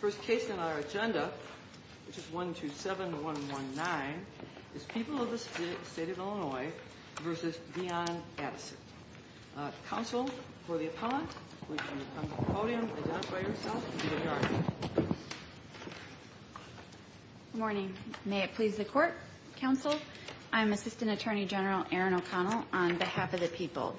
First case in our agenda, which is 127-119, is People of the State of Illinois v. Dionne Addison. Counsel for the appellant, would you come to the podium, identify yourself, and be adjourned. Good morning. May it please the Court, Counsel. I am Assistant Attorney General Erin O'Connell, on behalf of the people.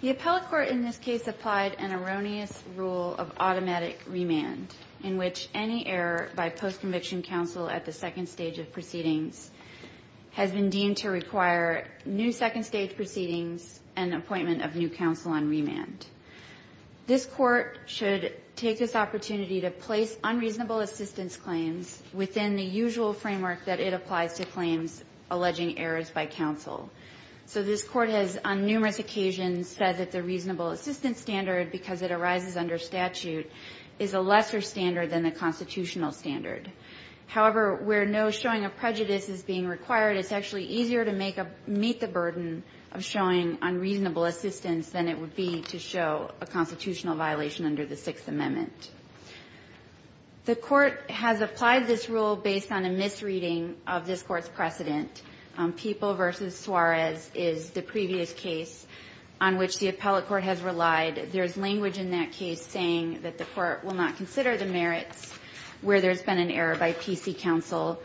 The appellate court in this case applied an erroneous rule of automatic remand, in which any error by post-conviction counsel at the second stage of proceedings has been deemed to require new second stage proceedings and appointment of new counsel on remand. This court should take this opportunity to place unreasonable assistance claims within the usual framework that it applies to claims alleging errors by counsel. So this court has, on numerous occasions, said that the reasonable assistance standard, because it arises under statute, is a lesser standard than the constitutional standard. However, where no showing of prejudice is being required, it's actually easier to meet the burden of showing unreasonable assistance than it would be to show a constitutional violation under the Sixth Amendment. The court has applied this rule based on a misreading of this court's precedent, People v. Suarez is the previous case on which the appellate court has relied. There's language in that case saying that the court will not consider the merits where there's been an error by PC counsel.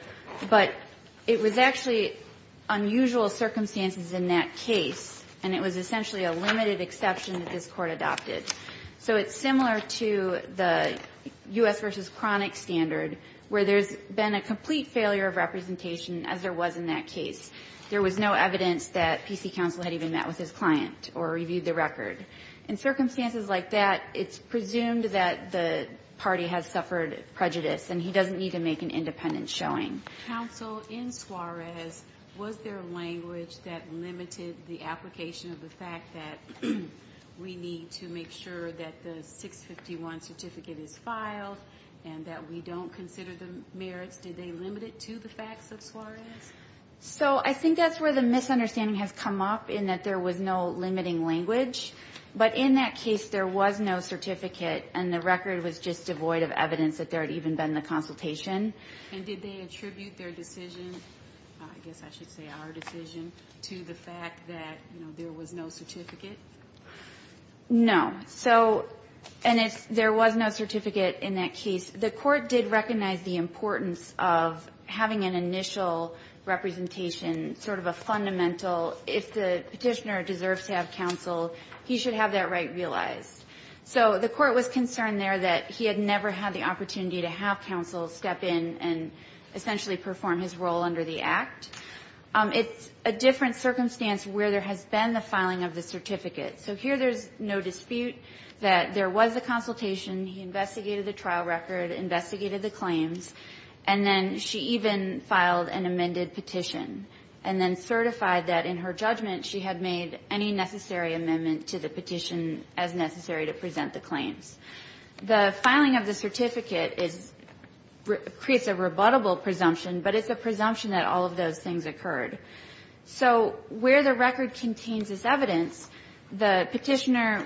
But it was actually unusual circumstances in that case, and it was essentially a limited exception that this court adopted. So it's similar to the U.S. v. Chronic standard, where there's been a complete failure of representation as there was in that case. There was no evidence that PC counsel had even met with his client or reviewed the record. In circumstances like that, it's presumed that the party has suffered prejudice and he doesn't need to make an independent showing. Counsel in Suarez, was there language that limited the application of the fact that we need to make sure that the 651 certificate is filed and that we don't consider the merits? Did they limit it to the facts of Suarez? So I think that's where the misunderstanding has come up, in that there was no limiting language. But in that case, there was no certificate, and the record was just devoid of evidence that there had even been the consultation. And did they attribute their decision, I guess I should say our decision, to the fact that there was no certificate? No. And there was no certificate in that case. The court did recognize the importance of having an initial representation, sort of a fundamental, if the petitioner deserves to have counsel, he should have that right realized. So the court was concerned there that he had never had the opportunity to have counsel step in and essentially perform his role under the Act. It's a different circumstance where there has been the filing of the certificate. So here there's no dispute that there was a consultation, he investigated the trial record, investigated the claims, and then she even filed an amended petition, and then certified that in her judgment she had made any necessary amendment to the petition as necessary to present the claims. The filing of the certificate creates a rebuttable presumption, but it's a presumption that all of those things occurred. So where the record contains this evidence, the petitioner,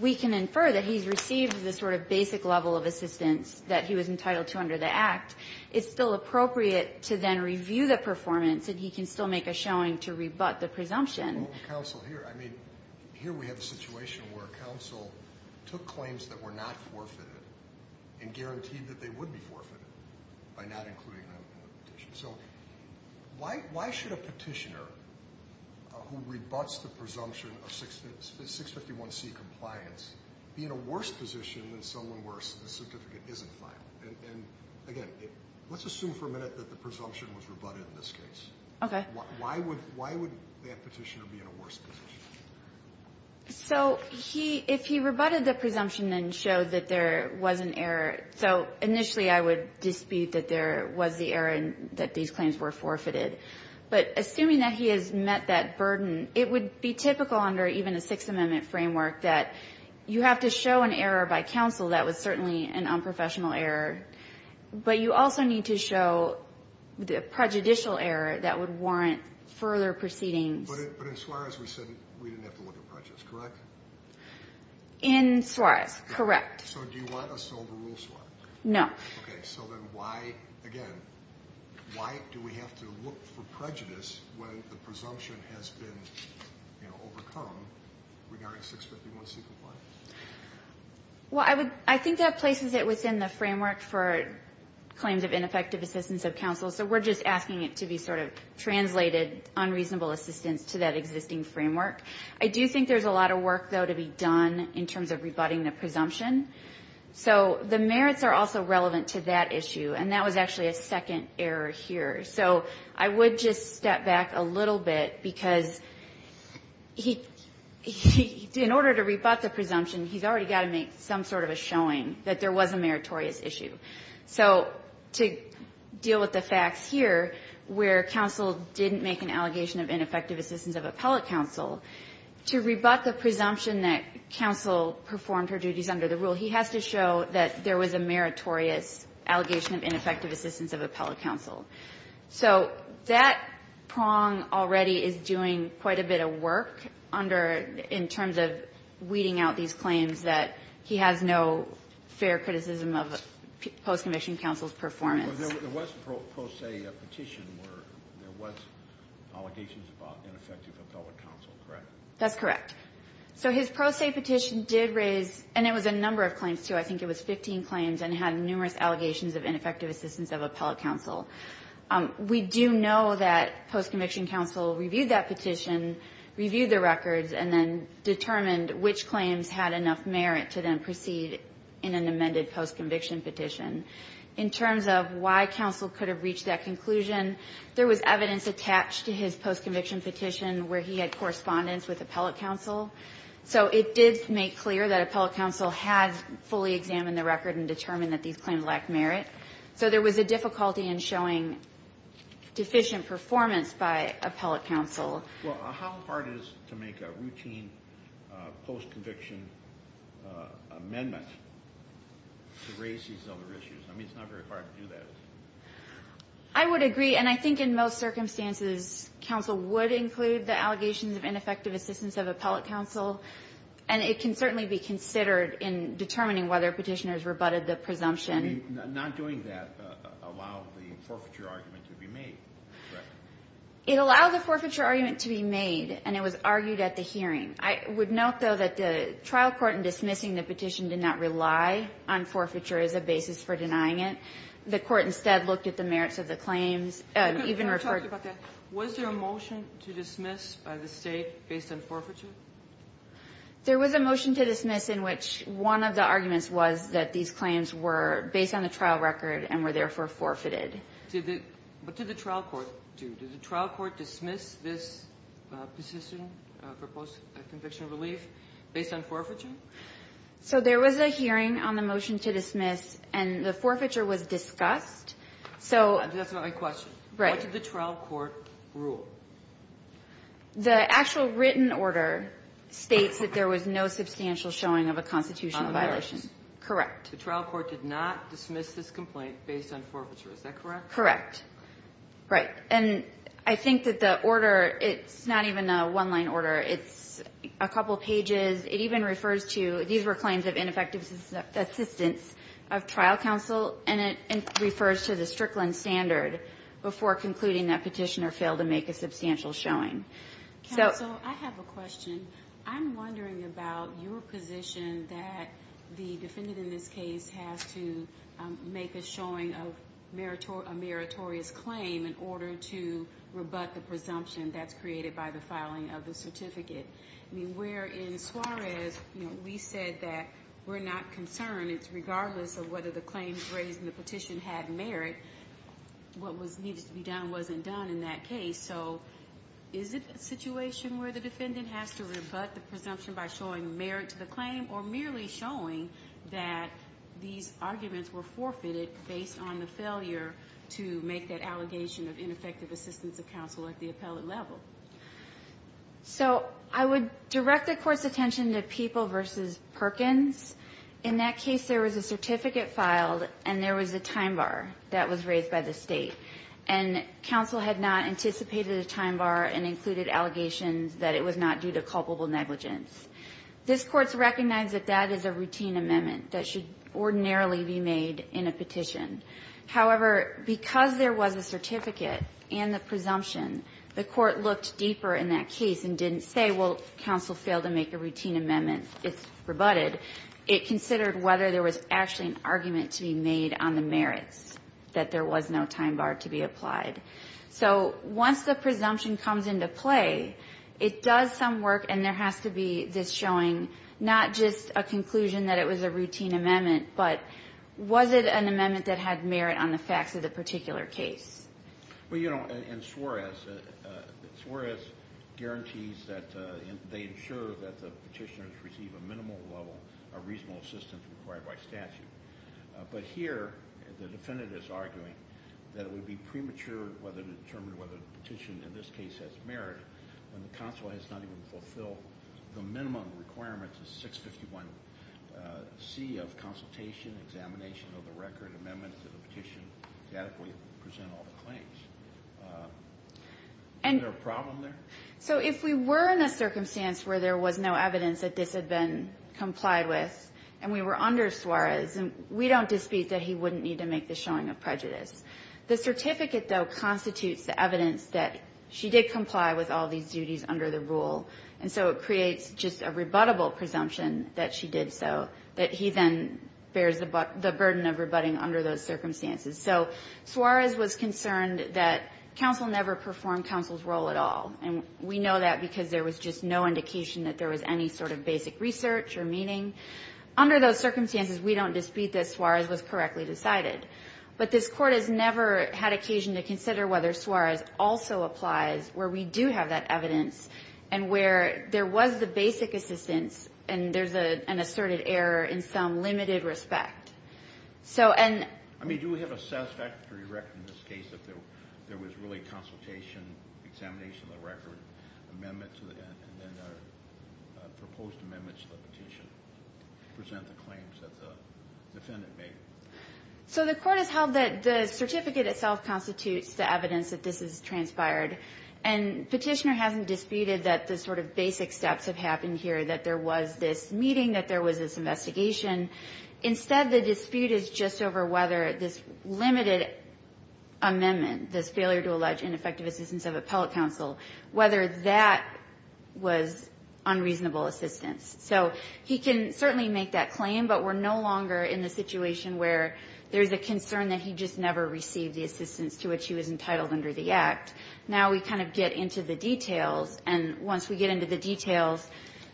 we can infer that he's received the sort of basic level of assistance that he was entitled to under the Act. It's still appropriate to then review the performance, and he can still make a showing to rebut the presumption. Well, counsel, here, I mean, here we have a situation where counsel took claims that were not forfeited and guaranteed that they would be forfeited by not including them in the petition. So why should a petitioner who rebuts the presumption of 651C compliance be in a worse position than someone where the certificate isn't filed? And, again, let's assume for a minute that the presumption was rebutted in this case. Okay. Why would that petitioner be in a worse position? So if he rebutted the presumption and showed that there was an error, so initially I would dispute that there was the error and that these claims were forfeited. But assuming that he has met that burden, it would be typical under even a Sixth Amendment framework that you have to show an error by counsel that was certainly an unprofessional error, but you also need to show the prejudicial error that would warrant further proceedings. But in Suarez we said we didn't have to look at prejudice, correct? In Suarez, correct. So do you want us to overrule Suarez? No. Okay. So then why, again, why do we have to look for prejudice when the presumption has been, you know, overcome regarding 651C compliance? Well, I think that places it within the framework for claims of ineffective assistance of counsel, so we're just asking it to be sort of translated unreasonable assistance to that existing framework. I do think there's a lot of work, though, to be done in terms of rebutting the presumption. So the merits are also relevant to that issue, and that was actually a second error here. So I would just step back a little bit because in order to rebut the presumption, he's already got to make some sort of a showing that there was a meritorious issue. So to deal with the facts here, where counsel didn't make an allegation of ineffective assistance of appellate counsel, to rebut the presumption that counsel performed her duties under the rule, he has to show that there was a meritorious allegation of ineffective assistance of appellate counsel. So that prong already is doing quite a bit of work under, in terms of weeding out these claims, that he has no fair criticism of post-conviction counsel's performance. There was a pro se petition where there was allegations of ineffective appellate counsel, correct? That's correct. So his pro se petition did raise, and it was a number of claims, too. I think it was 15 claims and had numerous allegations of ineffective assistance of appellate counsel. We do know that post-conviction counsel reviewed that petition, reviewed the records, and then determined which claims had enough merit to then proceed in an amended post-conviction petition. In terms of why counsel could have reached that conclusion, there was evidence attached to his post-conviction petition where he had correspondence with appellate counsel. So it did make clear that appellate counsel had fully examined the record and determined that these claims lacked merit. So there was a difficulty in showing deficient performance by appellate counsel. Well, how hard is it to make a routine post-conviction amendment to raise these other issues? I mean, it's not very hard to do that. I would agree. And I think in most circumstances, counsel would include the allegations of ineffective assistance of appellate counsel. And it can certainly be considered in determining whether Petitioners rebutted the presumption. I mean, not doing that allowed the forfeiture argument to be made, correct? It allowed the forfeiture argument to be made, and it was argued at the hearing. I would note, though, that the trial court in dismissing the petition did not rely on forfeiture as a basis for denying it. The court instead looked at the merits of the claims and even referred to them. Was there a motion to dismiss by the State based on forfeiture? There was a motion to dismiss in which one of the arguments was that these claims were based on the trial record and were therefore forfeited. What did the trial court do? Did the trial court dismiss this petition for post-conviction relief based on forfeiture? So there was a hearing on the motion to dismiss, and the forfeiture was discussed. That's not my question. Right. What did the trial court rule? The actual written order states that there was no substantial showing of a constitutional violation. On the merits. Correct. The trial court did not dismiss this complaint based on forfeiture. Is that correct? Correct. Right. And I think that the order, it's not even a one-line order. It's a couple pages. It even refers to, these were claims of ineffective assistance of trial counsel, and it refers to the Strickland standard before concluding that petitioner failed to make a substantial showing. Counsel, I have a question. I'm wondering about your position that the defendant in this case has to make a showing of a meritorious claim in order to rebut the presumption that's created by the filing of the certificate. I mean, where in Suarez, you know, we said that we're not concerned. It's regardless of whether the claims raised in the petition had merit. What was needed to be done wasn't done in that case. So is it a situation where the defendant has to rebut the presumption by showing merit to the claim or merely showing that these arguments were forfeited based on the failure to make that allegation of ineffective assistance of counsel at the appellate level? So I would direct the Court's attention to People v. Perkins. In that case, there was a certificate filed, and there was a time bar that was raised by the State. And counsel had not anticipated a time bar and included allegations that it was not due to culpable negligence. This Court's recognized that that is a routine amendment that should ordinarily be made in a petition. However, because there was a certificate and the presumption, the Court looked deeper in that case and didn't say, well, counsel failed to make a routine amendment, it's rebutted. It considered whether there was actually an argument to be made on the merits, that there was no time bar to be applied. So once the presumption comes into play, it does some work, and there has to be this showing not just a conclusion that it was a routine amendment, but was it an amendment that had merit on the facts of the particular case. Well, you know, and Suarez guarantees that they ensure that the petitioners receive a minimal level of reasonable assistance required by statute. But here, the defendant is arguing that it would be premature to determine whether the petition in this case has merit when the counsel has not even fulfilled the minimum requirements of 651C of consultation, examination of the record, amendments to the petition to adequately present all the claims. Is there a problem there? So if we were in a circumstance where there was no evidence that this had been complied with and we were under Suarez, we don't dispute that he wouldn't need to make the showing of prejudice. The certificate, though, constitutes the evidence that she did comply with all these duties under the rule. And so it creates just a rebuttable presumption that she did so, that he then bears the burden of rebutting under those circumstances. So Suarez was concerned that counsel never performed counsel's role at all. And we know that because there was just no indication that there was any sort of basic research or meaning. Under those circumstances, we don't dispute that Suarez was correctly decided. But this Court has never had occasion to consider whether Suarez also applies where we do have that evidence and where there was the basic assistance and there's an asserted error in some limited respect. I mean, do we have a satisfactory record in this case if there was really consultation, examination of the record, amendments, and then proposed amendments to the petition to present the claims that the defendant made? So the Court has held that the certificate itself constitutes the evidence that this is transpired. And Petitioner hasn't disputed that the sort of basic steps have happened here, that there was this meeting, that there was this investigation. Instead, the dispute is just over whether this limited amendment, this failure to allege ineffective assistance of appellate counsel, whether that was unreasonable assistance. So he can certainly make that claim, but we're no longer in the situation where there's a concern that he just never received the assistance to which he was entitled under the Act. Now we kind of get into the details. And once we get into the details,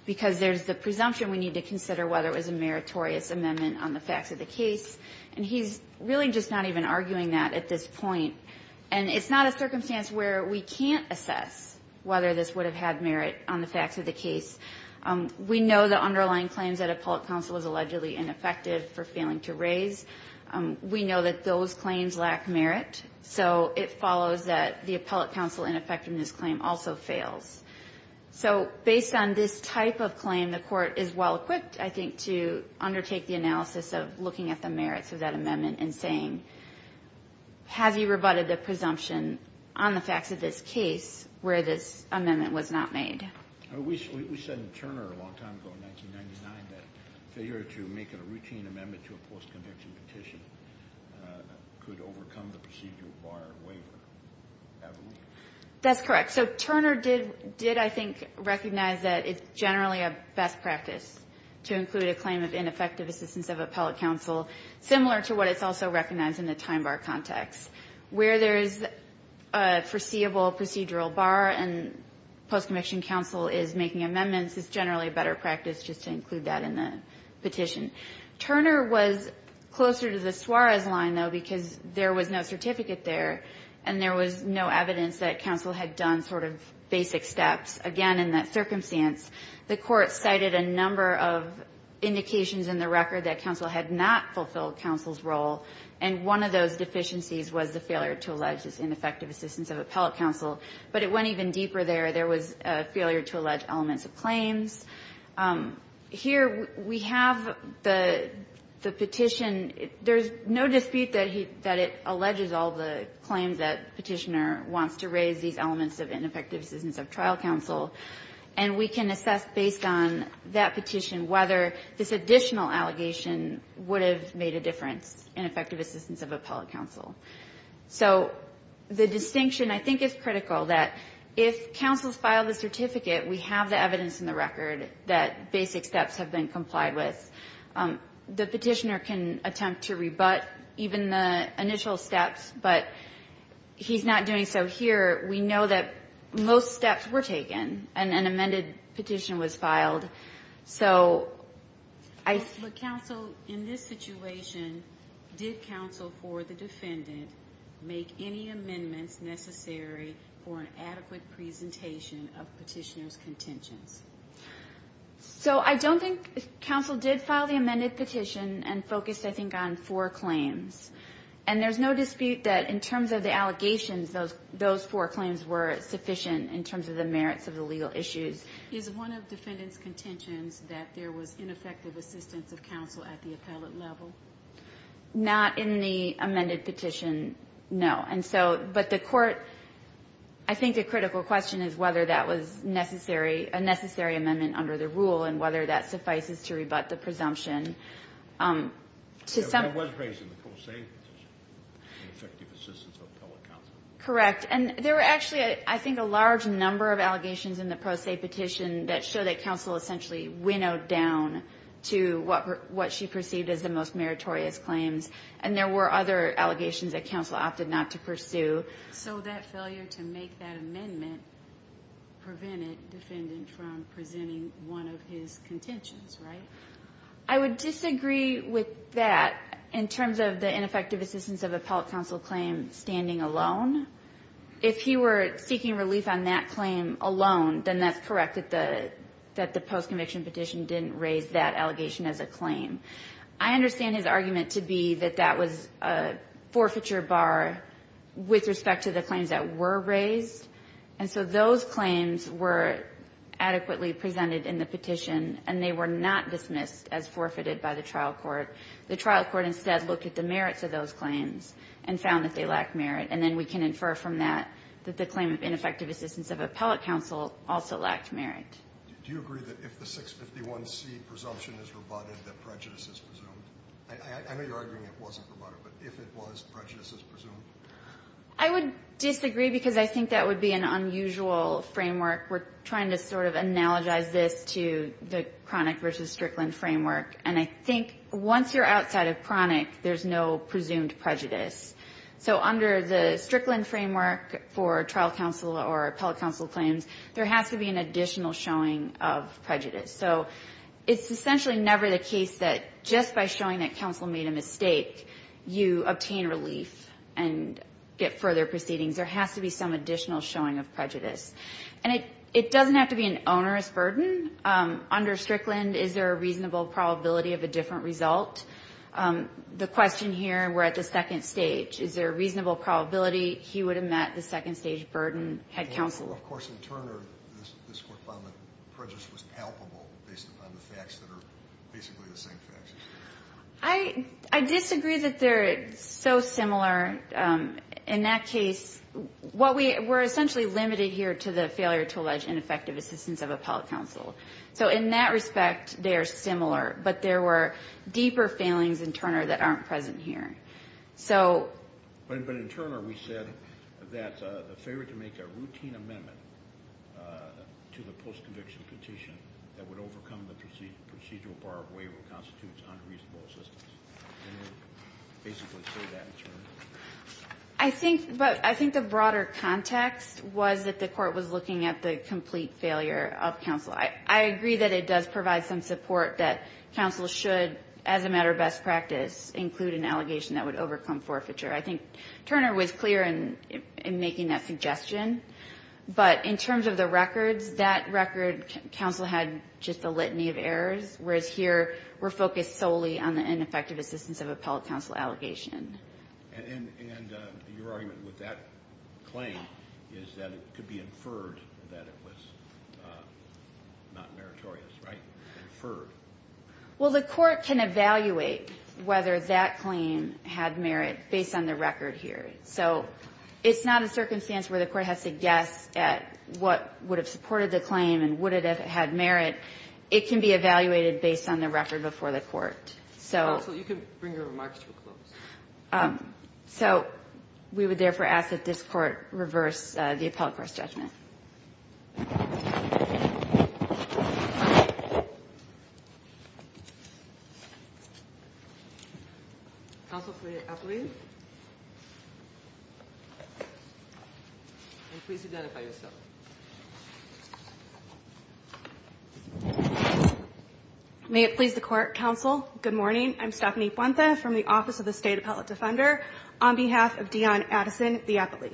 because there's the presumption we need to consider whether it was a meritorious amendment on the facts of the case, and he's really just not even arguing that at this point. And it's not a circumstance where we can't assess whether this would have had merit on the facts of the case. We know the underlying claims that appellate counsel is allegedly ineffective for failing to raise. We know that those claims lack merit. So it follows that the appellate counsel ineffectiveness claim also fails. So based on this type of claim, the Court is well-equipped, I think, to undertake the analysis of looking at the merits of that amendment and saying, have you rebutted the presumption on the facts of this case where this amendment was not made? We said in Turner a long time ago in 1999 that failure to make a routine amendment to a post-conviction petition could overcome the procedural bar waiver. Have we? That's correct. So Turner did, I think, recognize that it's generally a best practice to include a claim of ineffective assistance of appellate counsel, similar to what it's also recognized in the time bar context. Where there is a foreseeable procedural bar and post-conviction counsel is making amendments, it's generally a better practice just to include that in the petition. Turner was closer to the Suarez line, though, because there was no certificate there and there was no evidence that counsel had done sort of basic steps. Again, in that circumstance, the Court cited a number of indications in the record that counsel had not fulfilled counsel's role, and one of those deficiencies was the failure to allege this ineffective assistance of appellate counsel. But it went even deeper there. There was a failure to allege elements of claims. Here we have the petition. There's no dispute that it alleges all the claims that Petitioner wants to raise, these elements of ineffective assistance of trial counsel, and we can assess, based on that petition, whether this additional allegation would have made a difference in effective assistance of appellate counsel. So the distinction, I think, is critical, that if counsel has filed the certificate, we have the evidence in the record that basic steps have been complied with. The petitioner can attempt to rebut even the initial steps, but he's not doing so here. We know that most steps were taken, and an amended petition was filed. So I think... But counsel, in this situation, did counsel for the defendant make any amendments necessary for an adequate presentation of Petitioner's contentions? So I don't think counsel did file the amended petition and focus, I think, on four claims. And there's no dispute that in terms of the allegations, those four claims were sufficient in terms of the merits of the legal issues. Is one of defendant's contentions that there was ineffective assistance of counsel at the appellate level? Not in the amended petition, no. And so, but the court, I think the critical question is whether that was necessary and necessary amendment under the rule and whether that suffices to rebut the presumption. To some... It was raised in the pro se in effective assistance of appellate counsel. Correct. And there were actually, I think, a large number of allegations in the pro se petition that show that counsel essentially winnowed down to what she perceived as the most meritorious claims. And there were other allegations that counsel opted not to pursue. So that failure to make that amendment prevented defendant from presenting one of his contentions, right? I would disagree with that in terms of the ineffective assistance of appellate counsel claim standing alone. If he were seeking relief on that claim alone, then that's correct, that the post-conviction petition didn't raise that allegation as a claim. I understand his argument to be that that was a forfeiture bar with respect to the claims that were raised. And so those claims were adequately presented in the petition, and they were not dismissed as forfeited by the trial court. The trial court instead looked at the merits of those claims and found that they lacked merit. And then we can infer from that that the claim of ineffective assistance of appellate counsel also lacked merit. Do you agree that if the 651C presumption is rebutted, that prejudice is presumed? I know you're arguing it wasn't rebutted, but if it was, prejudice is presumed? I would disagree because I think that would be an unusual framework. We're trying to sort of analogize this to the Cronic versus Strickland framework. And I think once you're outside of Cronic, there's no presumed prejudice. So under the Strickland framework for trial counsel or appellate counsel claims, there has to be an additional showing of prejudice. So it's essentially never the case that just by showing that counsel made a mistake, you obtain relief and get further proceedings. There has to be some additional showing of prejudice. And it doesn't have to be an onerous burden. Under Strickland, is there a reasonable probability of a different result? The question here, we're at the second stage. Is there a reasonable probability he would have met the second stage burden had counsel? Well, of course, in Turner, this Court found that prejudice was palpable based upon the facts that are basically the same facts. I disagree that they're so similar. In that case, we're essentially limited here to the failure to allege ineffective assistance of appellate counsel. So in that respect, they are similar. But there were deeper failings in Turner that aren't present here. But in Turner, we said that the failure to make a routine amendment to the post-conviction petition that would overcome the procedural bar of waiver constitutes unreasonable assistance. Didn't it basically say that in Turner? I think the broader context was that the Court was looking at the complete failure of counsel. I agree that it does provide some support that counsel should, as a matter of best practice, include an allegation that would overcome forfeiture. I think Turner was clear in making that suggestion. But in terms of the records, that record, counsel had just a litany of errors, whereas here, we're focused solely on the ineffective assistance of appellate counsel allegation. And your argument with that claim is that it could be inferred that it was not meritorious, right? Inferred. Well, the Court can evaluate whether that claim had merit based on the record here. So it's not a circumstance where the Court has to guess at what would have supported the claim and would it have had merit. It can be evaluated based on the record before the Court. So you can bring your remarks to a close. So we would therefore ask that this Court reverse the appellate court's judgment. Thank you, Your Honor. Counsel for the appellate. And please identify yourself. May it please the Court, counsel, good morning. I'm Stephanie Puente from the Office of the State Appellate Defender. On behalf of Dionne Addison, the appellate.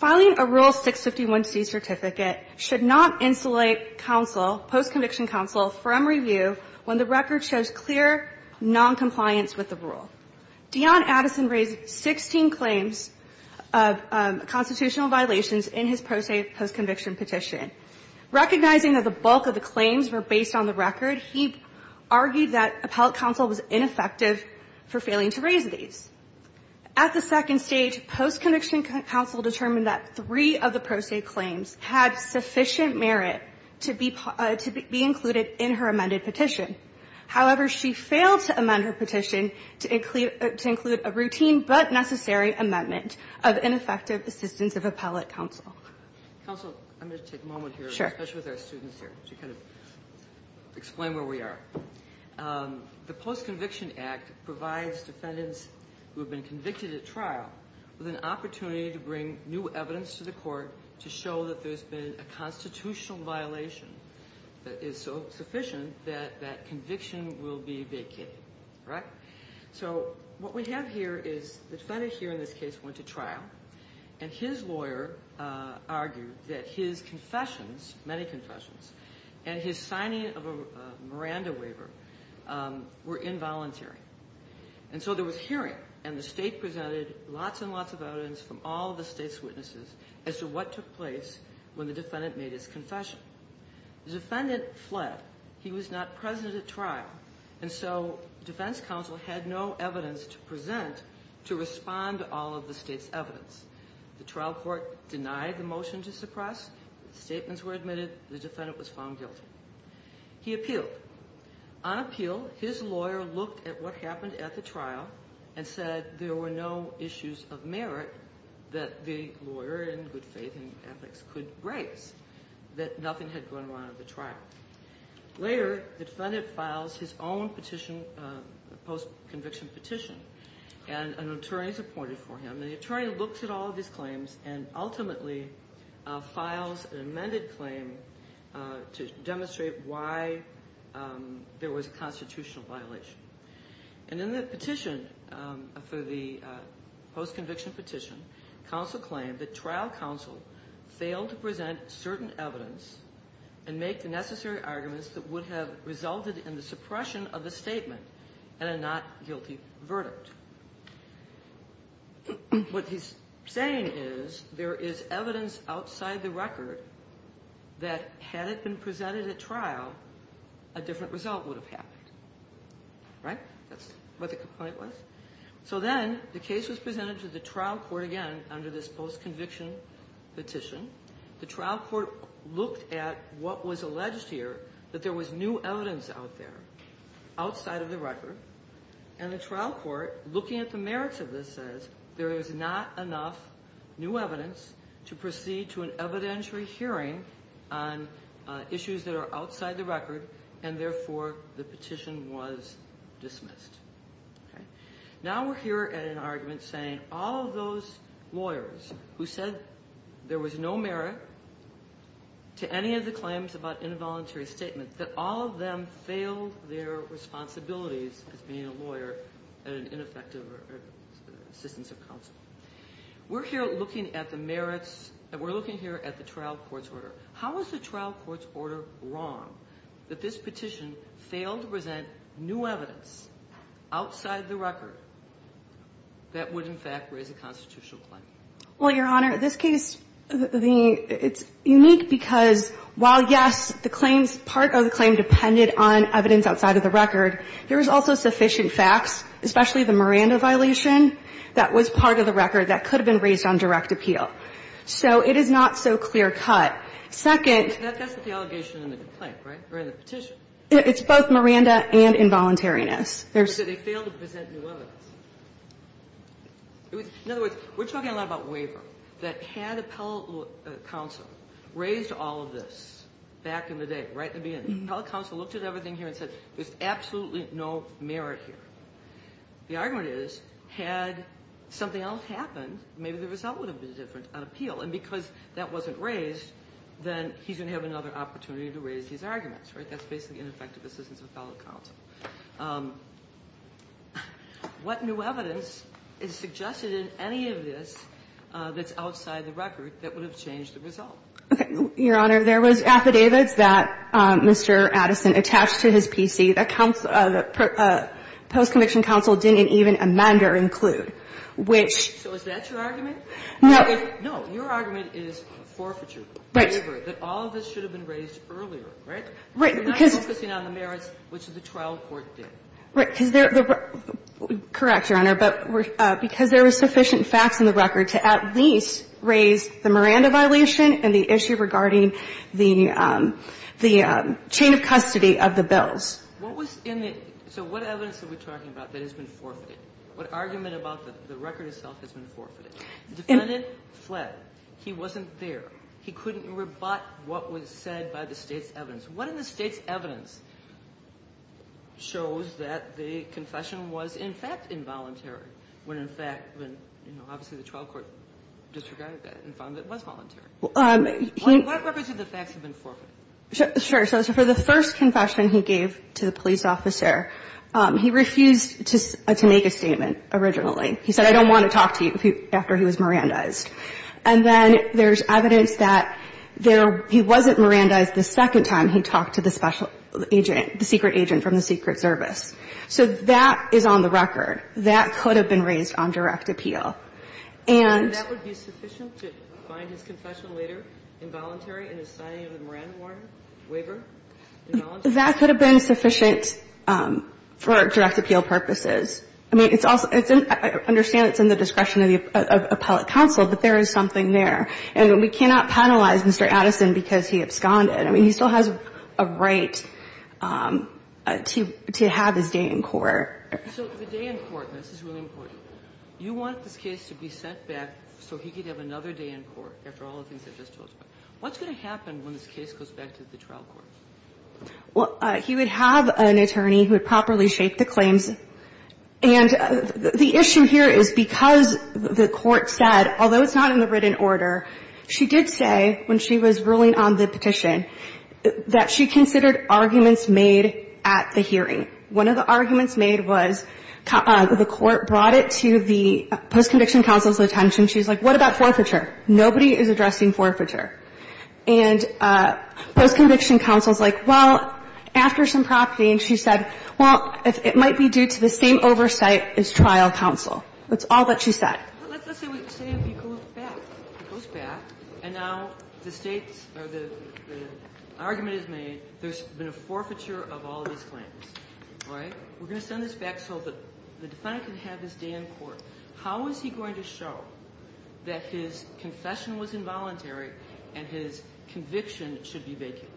I would like to read the record of the appellate counsel's testimony. Filing a Rule 651C certificate should not insulate counsel, post-conviction counsel, from review when the record shows clear noncompliance with the rule. Dionne Addison raised 16 claims of constitutional violations in his post-conviction petition. Recognizing that the bulk of the claims were based on the record, he argued that At the second stage, post-conviction counsel determined that three of the pro se claims had sufficient merit to be included in her amended petition. However, she failed to amend her petition to include a routine but necessary amendment of ineffective assistance of appellate counsel. Counsel, I'm going to take a moment here, especially with our students here, to kind of explain where we are. The Post-Conviction Act provides defendants who have been convicted at trial with an opportunity to bring new evidence to the court to show that there's been a constitutional violation that is so sufficient that that conviction will be vacated. Right? So what we have here is the defendant here in this case went to trial and his lawyer argued that his confessions, many confessions, and his signing of a Miranda waiver were involuntary. And so there was hearing and the state presented lots and lots of evidence from all of the state's witnesses as to what took place when the defendant made his confession. The defendant fled. He was not present at trial. And so defense counsel had no evidence to present to respond to all of the state's evidence. The trial court denied the motion to suppress. Statements were admitted. The defendant was found guilty. He appealed. On appeal, his lawyer looked at what happened at the trial and said there were no issues of merit that the lawyer in good faith and ethics could raise, that nothing had gone wrong at the trial. Later, the defendant files his own petition, post-conviction petition, and an attorney is appointed for him. The attorney looks at all of his claims and ultimately files an amended claim to demonstrate why there was a constitutional violation. And in the petition, for the post-conviction petition, counsel claimed that trial counsel failed to present certain evidence and make the necessary arguments that would have resulted in the suppression of the statement and a not guilty verdict. What he's saying is there is evidence outside the record that had it been presented at trial, a different result would have happened. Right? That's what the complaint was. So then the case was presented to the trial court again under this post-conviction petition. The trial court looked at what was alleged here, that there was new evidence out there outside of the record. And the trial court, looking at the merits of this, says there is not enough new evidence, there are issues that are outside the record, and therefore the petition was dismissed. Okay? Now we're here at an argument saying all of those lawyers who said there was no merit to any of the claims about involuntary statements, that all of them failed their responsibilities as being a lawyer and ineffective assistance of counsel. We're here looking at the merits, we're looking here at the trial court's order. How is the trial court's order wrong that this petition failed to present new evidence outside the record that would, in fact, raise a constitutional claim? Well, Your Honor, this case, the – it's unique because while, yes, the claims – part of the claim depended on evidence outside of the record, there was also sufficient facts, especially the Miranda violation, that was part of the record that could have been raised on direct appeal. So it is not so clear-cut. Second – But that's not the allegation in the complaint, right? Or in the petition? It's both Miranda and involuntariness. But they failed to present new evidence. In other words, we're talking a lot about waiver, that had appellate counsel raised all of this back in the day, right at the beginning. Appellate counsel looked at everything here and said there's absolutely no merit The argument is, had something else happened, maybe the result would have been different on appeal, and because that wasn't raised, then he's going to have another opportunity to raise these arguments, right? That's basically ineffective assistance of appellate counsel. What new evidence is suggested in any of this that's outside the record that would have changed the result? Your Honor, there was affidavits that Mr. Addison attached to his PC that post-conviction counsel didn't even amend or include, which – So is that your argument? No. No. Your argument is forfeiture. Right. That all of this should have been raised earlier, right? Right. We're not focusing on the merits, which the trial court did. Right. Correct, Your Honor. But because there were sufficient facts in the record to at least raise the Miranda violation and the issue regarding the chain of custody of the bills. What was in the – so what evidence are we talking about that has been forfeited? What argument about the record itself has been forfeited? The defendant fled. He wasn't there. He couldn't rebut what was said by the State's evidence. What in the State's evidence shows that the confession was, in fact, involuntary when, in fact, when, you know, obviously the trial court disregarded that and found it was voluntary? What records of the facts have been forfeited? Sure. So for the first confession he gave to the police officer, he refused to make a statement originally. He said, I don't want to talk to you after he was Mirandized. And then there's evidence that there – he wasn't Mirandized the second time he talked to the special agent, the secret agent from the Secret Service. So that is on the record. That could have been raised on direct appeal. And – And that would be sufficient to find his confession later involuntary in his signing of the Miranda warrant, waiver, involuntary? That could have been sufficient for direct appeal purposes. I mean, it's also – I understand it's in the discretion of the appellate counsel, but there is something there. And we cannot penalize Mr. Addison because he absconded. I mean, he still has a right to have his day in court. So the day in court, and this is really important, you want this case to be sent back so he could have another day in court after all the things I just told you about. What's going to happen when this case goes back to the trial court? Well, he would have an attorney who would properly shake the claims. And the issue here is because the court said, although it's not in the written order, she did say when she was ruling on the petition that she considered arguments made at the hearing. One of the arguments made was the court brought it to the post-conviction counsel's attention. She was like, what about forfeiture? Nobody is addressing forfeiture. And post-conviction counsel is like, well, after some property, and she said, well, it might be due to the same oversight as trial counsel. That's all that she said. Ginsburg. Let's just say he goes back. He goes back, and now the State's argument is made there's been a forfeiture of all of his claims. All right? We're going to send this back so the defendant can have his day in court. How is he going to show that his confession was involuntary and his conviction should be vacant?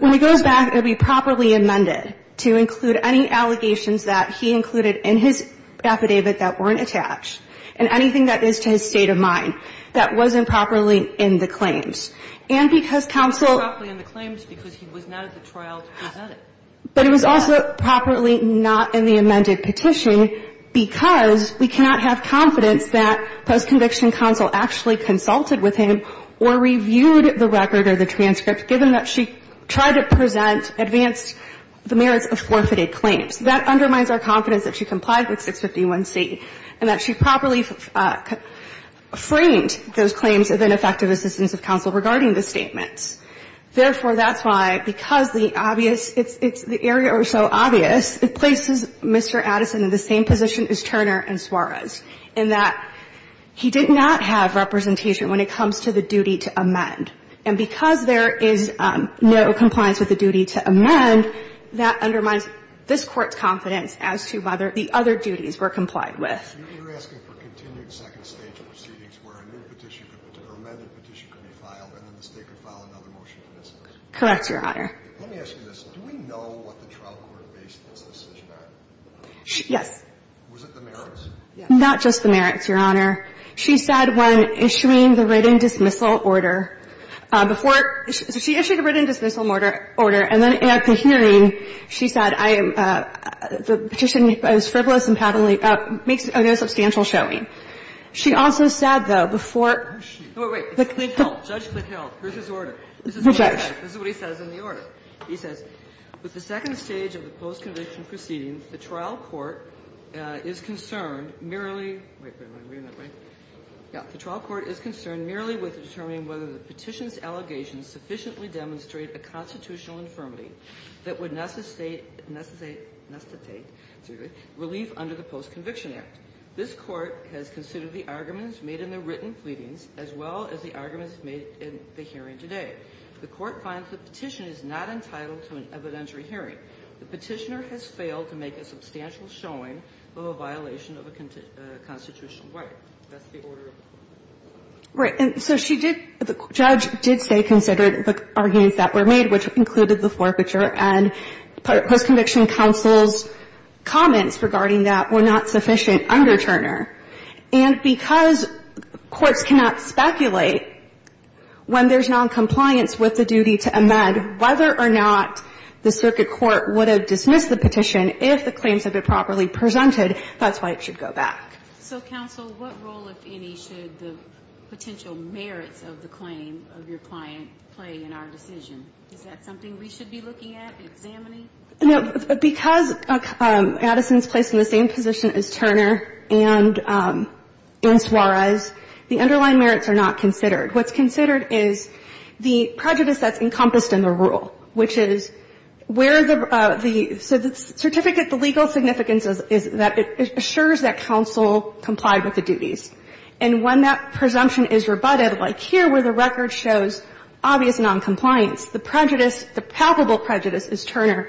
When he goes back, it will be properly amended to include any allegations that he included in his affidavit that weren't attached and anything that is to his state of mind that wasn't properly in the claims. And because counsel was not at the trial to present it. But it was also properly not in the amended petition because we cannot have confidence that post-conviction counsel actually consulted with him or reviewed the record or the transcript, given that she tried to present advanced, the merits of forfeited claims. That undermines our confidence that she complied with 651C and that she properly framed those claims of ineffective assistance of counsel regarding the statements. Therefore, that's why, because the obvious, it's the area where it's so obvious, it places Mr. Addison in the same position as Turner and Suarez, in that he did not have representation when it comes to the duty to amend. And because there is no compliance with the duty to amend, that undermines this Court's confidence as to whether the other duties were complied with. Yes, Your Honor. Let me ask you this. Do we know what the trial court based this decision on? Yes. Was it the merits? Not just the merits, Your Honor. She said when issuing the written dismissal order, before she issued a written dismissal order, and then at the hearing, she said, I am, the petition is frivolous and makes no sense to me. So there is substantial showing. She also said, though, before the clint held, Judge clint held, here's his order. This is what he says in the order. He says, with the second stage of the post-conviction proceedings, the trial court is concerned merely, wait a minute, read it that way, yeah, the trial court is concerned merely with determining whether the petition's allegations sufficiently demonstrate a constitutional infirmity that would necessitate relief under the post-conviction act. This Court has considered the arguments made in the written pleadings as well as the arguments made in the hearing today. The Court finds the petition is not entitled to an evidentiary hearing. The petitioner has failed to make a substantial showing of a violation of a constitutional right. That's the order. Right. And so she did, the judge did say considered the arguments that were made, which included the forfeiture, and post-conviction counsel's comments regarding that were not sufficient under Turner. And because courts cannot speculate when there's noncompliance with the duty to amend, whether or not the circuit court would have dismissed the petition if the claims had been properly presented, that's why it should go back. So, counsel, what role, if any, should the potential merits of the claim of your client play in our decision? Is that something we should be looking at, examining? No. Because Addison's placed in the same position as Turner and in Suarez, the underlying merits are not considered. What's considered is the prejudice that's encompassed in the rule, which is where the certificate, the legal significance is that it assures that counsel complied with the duties. And when that presumption is rebutted, like here where the record shows obvious noncompliance, the prejudice, the palpable prejudice, as Turner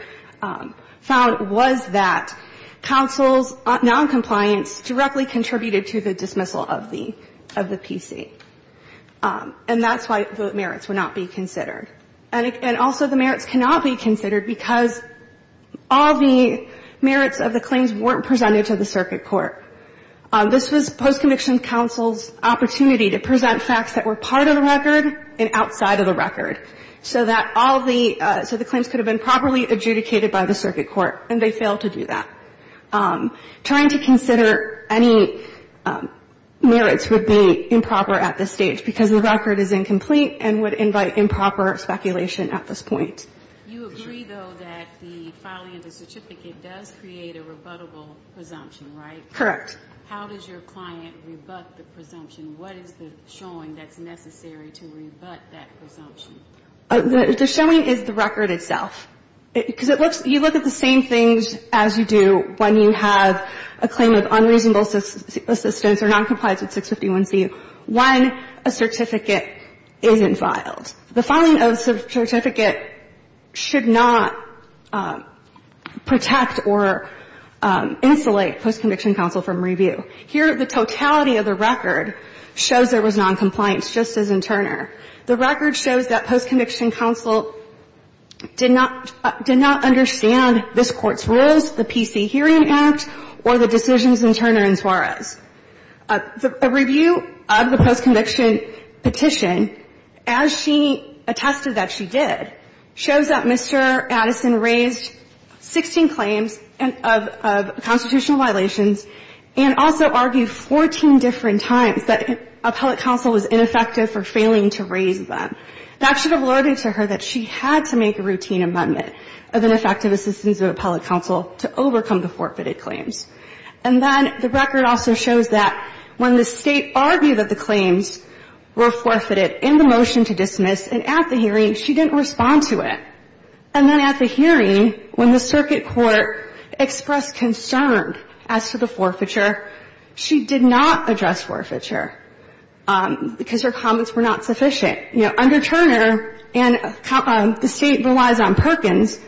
found, was that counsel's noncompliance directly contributed to the dismissal of the PC. And that's why the merits would not be considered. And also the merits cannot be considered because all the merits of the claims weren't presented to the circuit court. This was post-conviction counsel's opportunity to present facts that were part of the record, so that all the so the claims could have been properly adjudicated by the circuit court, and they failed to do that. Trying to consider any merits would be improper at this stage, because the record is incomplete and would invite improper speculation at this point. You agree, though, that the filing of the certificate does create a rebuttable presumption, right? Correct. How does your client rebut the presumption? What is the showing that's necessary to rebut that presumption? The showing is the record itself. Because it looks you look at the same things as you do when you have a claim of unreasonable assistance or noncompliance with 651c when a certificate isn't filed. The filing of a certificate should not protect or insulate post-conviction counsel from review. Here, the totality of the record shows there was noncompliance, just as in Turner. The record shows that post-conviction counsel did not understand this Court's rules, the PC Hearing Act, or the decisions in Turner and Suarez. A review of the post-conviction petition, as she attested that she did, shows that she also argued 14 different times that appellate counsel was ineffective for failing to raise them. That should have alluded to her that she had to make a routine amendment of ineffective assistance of appellate counsel to overcome the forfeited claims. And then the record also shows that when the State argued that the claims were forfeited in the motion to dismiss, and at the hearing, she didn't respond to it. And then at the hearing, when the circuit court expressed concern as to the forfeiture, she did not address forfeiture because her comments were not sufficient. You know, under Turner, and the State relies on Perkins,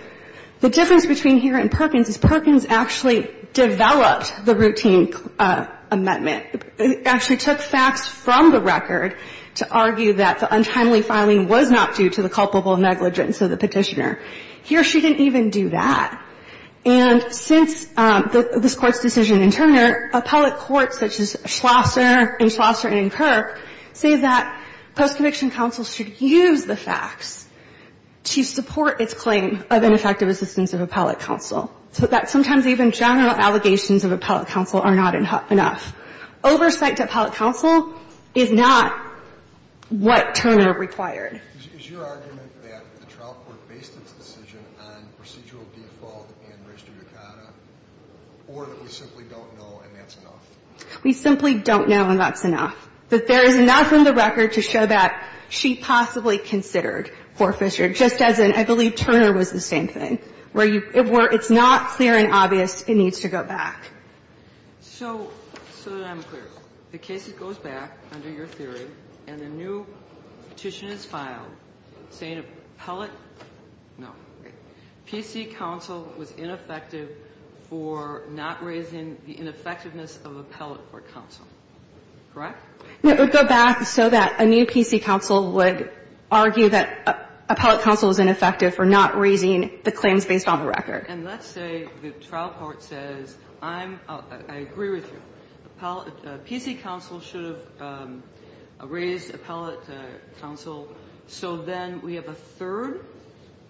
the difference between here and Perkins is Perkins actually developed the routine amendment. It actually took facts from the record to argue that the untimely filing was not due to the culpable negligence of the Petitioner. Here, she didn't even do that. And since this Court's decision in Turner, appellate courts such as Schlosser and Schlosser and Kirk say that post-conviction counsel should use the facts to support its claim of ineffective assistance of appellate counsel. So that sometimes even general allegations of appellate counsel are not enough. Oversight to appellate counsel is not what Turner required. Is your argument that the trial court based its decision on procedural default and registered decada, or that we simply don't know and that's enough? We simply don't know and that's enough. That there is enough in the record to show that she possibly considered forfeiture, just as in, I believe, Turner was the same thing, where it's not clear and obvious it needs to go back. So, so that I'm clear. The case goes back under your theory and a new petition is filed saying appellate no, PC counsel was ineffective for not raising the ineffectiveness of appellate court counsel, correct? It would go back so that a new PC counsel would argue that appellate counsel was ineffective for not raising the claims based on the record. And let's say the trial court says I'm, I agree with you. Appellate, PC counsel should have raised appellate counsel. So then we have a third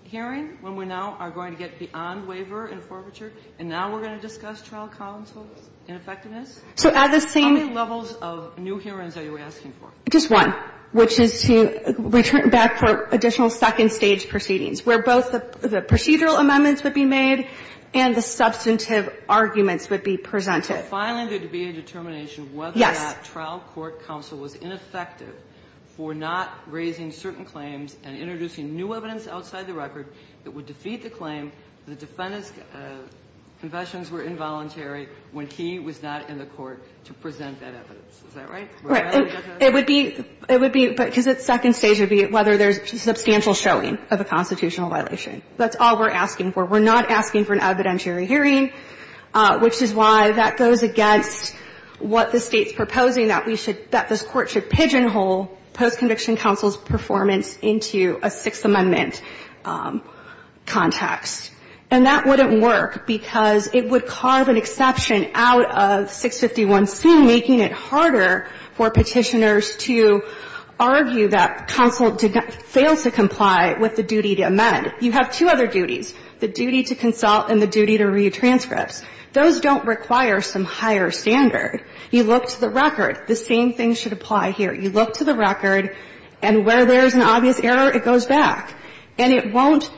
hearing when we now are going to get beyond waiver and forfeiture and now we're going to discuss trial counsel's ineffectiveness? So at the same. How many levels of new hearings are you asking for? Just one, which is to return back for additional second stage proceedings, where both the procedural amendments would be made and the substantive arguments would be presented. So filing there would be a determination whether that trial court counsel was ineffective for not raising certain claims and introducing new evidence outside the record that would defeat the claim that the defendant's confessions were involuntary when he was not in the court to present that evidence. Is that right? Right. It would be, it would be, because its second stage would be whether there's substantial showing of a constitutional violation. That's all we're asking for. We're not asking for an evidentiary hearing, which is why that goes against what the State's proposing, that we should, that this Court should pigeonhole post-conviction counsel's performance into a Sixth Amendment context. And that wouldn't work because it would carve an exception out of 651C, making it harder for Petitioners to argue that counsel did not, fails to comply with the duty to amend. You have two other duties, the duty to consult and the duty to read transcripts. Those don't require some higher standard. You look to the record. The same thing should apply here. You look to the record, and where there's an obvious error, it goes back. And it won't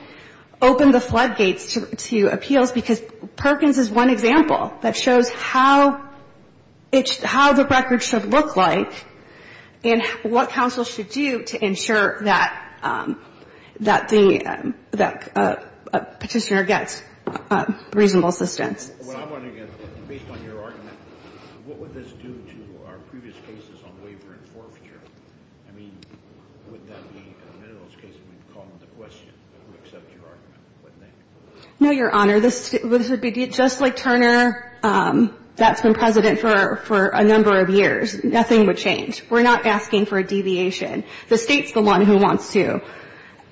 open the floodgates to appeals because Perkins is one example that shows how the record should look like and what counsel should do to ensure that the Petitioner gets reasonable assistance. Well, I'm wondering, based on your argument, what would this do to our previous cases on waiver and forfeiture? I mean, would that be a minimalist case if we called the question to accept your argument? No, Your Honor. This would be just like Turner. That's been President for a number of years. Nothing would change. We're not asking for a deviation. The State's the one who wants to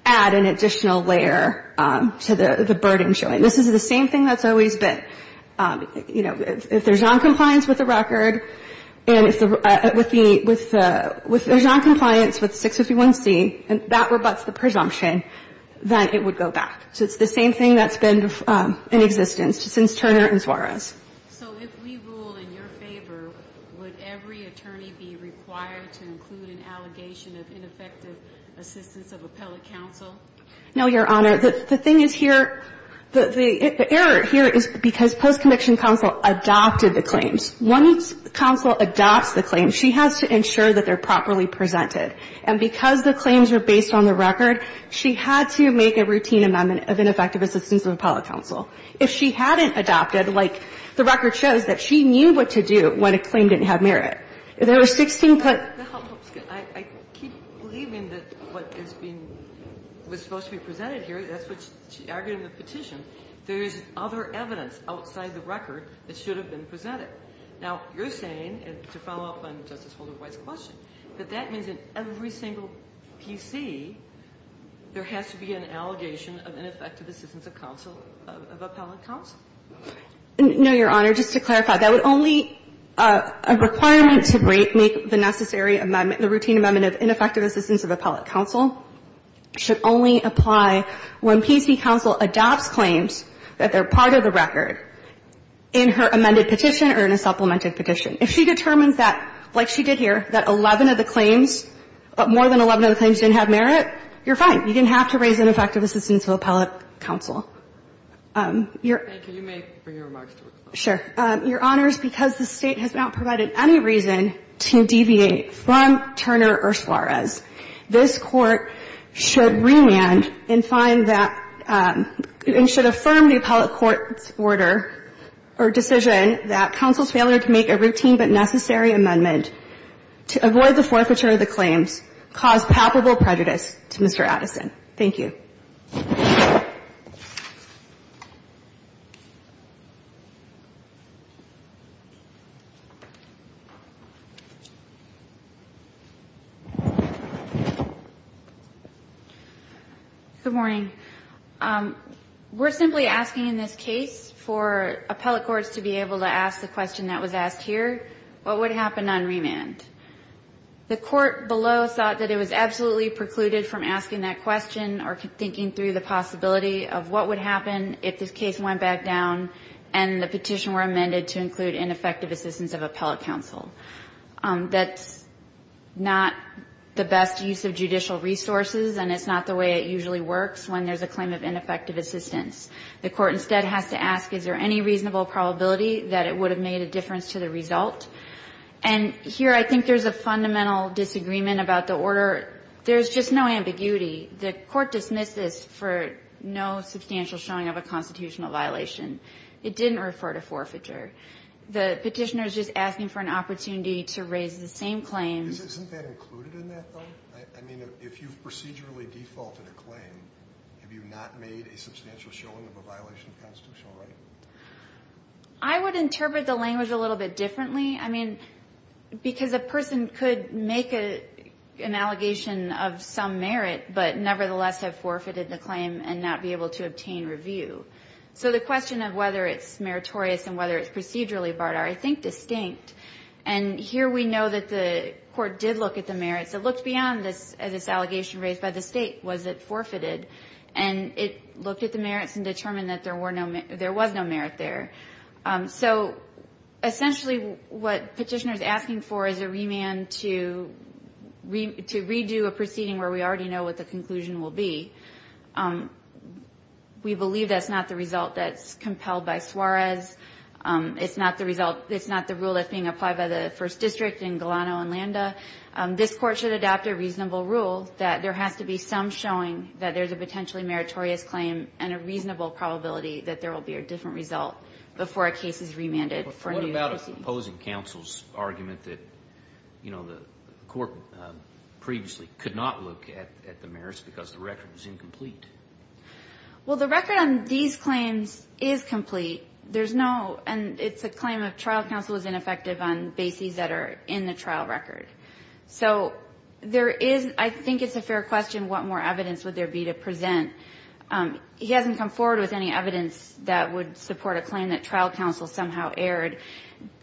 add an additional layer to the burden showing. This is the same thing that's always been. You know, if there's noncompliance with the record, and if there's noncompliance with 651C, and that rebuts the presumption, then it would go back. So it's the same thing that's been in existence since Turner and Suarez. So if we rule in your favor, would every attorney be required to include an allegation of ineffective assistance of appellate counsel? No, Your Honor. The thing is here, the error here is because post-conviction counsel adopted the claims. Once counsel adopts the claims, she has to ensure that they're properly presented. And because the claims are based on the record, she had to make a routine amendment of ineffective assistance of appellate counsel. If she hadn't adopted, like, the record shows that she knew what to do when a claim didn't have merit. There were 16 put. I keep believing that what is being was supposed to be presented here, that's what she argued in the petition. There's other evidence outside the record that should have been presented. Now, you're saying, and to follow up on Justice Holder White's question, that that means in every single PC, there has to be an allegation of ineffective assistance of counsel, of appellate counsel. No, Your Honor. Just to clarify, that would only be a requirement to make the necessary amendment the routine amendment of ineffective assistance of appellate counsel should only apply when PC counsel adopts claims that they're part of the record. In her amended petition or in a supplemented petition. If she determines that, like she did here, that 11 of the claims, more than 11 of the claims didn't have merit, you're fine. You didn't have to raise ineffective assistance of appellate counsel. Your Honor, because the State has not provided any reason to deviate from Turner or Suarez, this Court should remand and find that, and should affirm the appellate court's order or decision that counsel's failure to make a routine but necessary amendment to avoid the forfeiture of the claims caused palpable prejudice to Mr. Addison. Thank you. Good morning. We're simply asking in this case for appellate courts to be able to ask the question that was asked here. What would happen on remand? The court below thought that it was absolutely precluded from asking that question or thinking through the possibility of what would happen if this case went back down and the petition were amended to include ineffective assistance of appellate counsel. That's not the best use of judicial resources, and it's not the way it usually works when there's a claim of ineffective assistance. The court instead has to ask, is there any reasonable probability that it would have made a difference to the result? And here I think there's a fundamental disagreement about the order. There's just no ambiguity. The court dismissed this for no substantial showing of a constitutional violation. It didn't refer to forfeiture. The petitioner is just asking for an opportunity to raise the same claim. Isn't that included in that, though? I mean, if you've procedurally defaulted a claim, have you not made a substantial showing of a violation of constitutional right? I would interpret the language a little bit differently, I mean, because a person could make an allegation of some merit but nevertheless have forfeited the claim and not be able to obtain review. So the question of whether it's meritorious and whether it's procedurally barred are, I think, distinct. And here we know that the court did look at the merits. It looked beyond this allegation raised by the state. Was it forfeited? And it looked at the merits and determined that there was no merit there. So essentially what the petitioner is asking for is a remand to redo a proceeding where we already know what the conclusion will be. We believe that's not the result that's compelled by Suarez. It's not the rule that's being applied by the First District in Galano and Landa. This court should adopt a reasonable rule that there has to be some showing that there's a potentially meritorious claim and a reasonable probability that there will be a different result before a case is remanded for a new proceeding. What about opposing counsel's argument that the court previously could not look at the merits because the record was incomplete? Well, the record on these claims is complete. There's no, and it's a claim of trial counsel is ineffective on bases that are in the trial record. So there is, I think it's a fair question, what more evidence would there be to present? He hasn't come forward with any evidence that would support a claim that trial counsel somehow erred.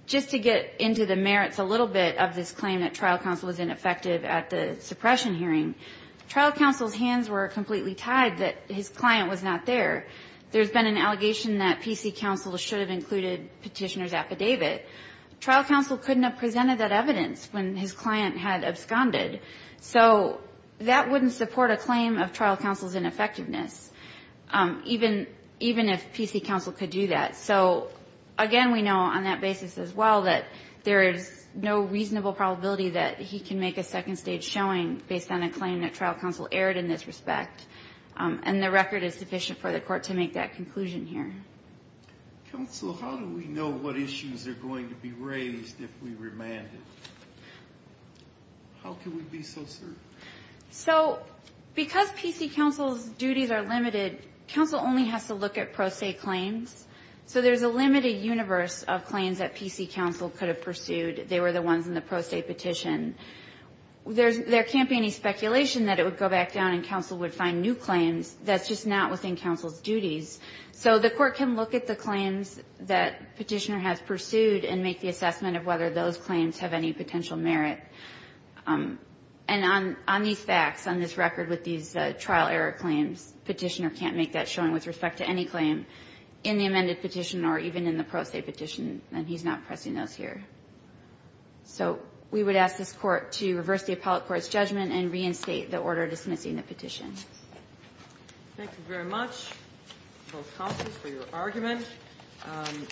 Just to get into the merits a little bit of this claim that trial counsel was ineffective at the suppression hearing, trial counsel's hands were completely tied that his client was not there. There's been an allegation that PC counsel should have included petitioner's affidavit. Trial counsel couldn't have presented that evidence when his client had absconded. So that wouldn't support a claim of trial counsel's ineffectiveness, even if PC counsel could do that. So, again, we know on that basis as well that there is no reasonable probability that he can make a second stage showing based on a claim that trial counsel erred in this respect. And the record is sufficient for the court to make that conclusion here. Counsel, how do we know what issues are going to be raised if we remand it? How can we be so certain? So because PC counsel's duties are limited, counsel only has to look at pro se claims. So there's a limited universe of claims that PC counsel could have pursued. They were the ones in the pro se petition. There can't be any speculation that it would go back down and counsel would find new claims. That's just not within counsel's duties. So the court can look at the claims that petitioner has pursued and make the assessment of whether those claims have any potential merit. And on these facts, on this record with these trial error claims, petitioner can't make that showing with respect to any claim in the amended petition or even in the pro se petition. And he's not pressing those here. So we would ask this Court to reverse the appellate court's judgment and reinstate the order dismissing the petition. Thank you very much, both counsels, for your argument.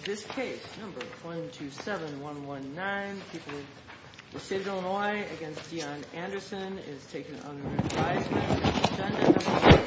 This case, number 127119, people of the state of Illinois, against Dion Anderson, is taken under advisement.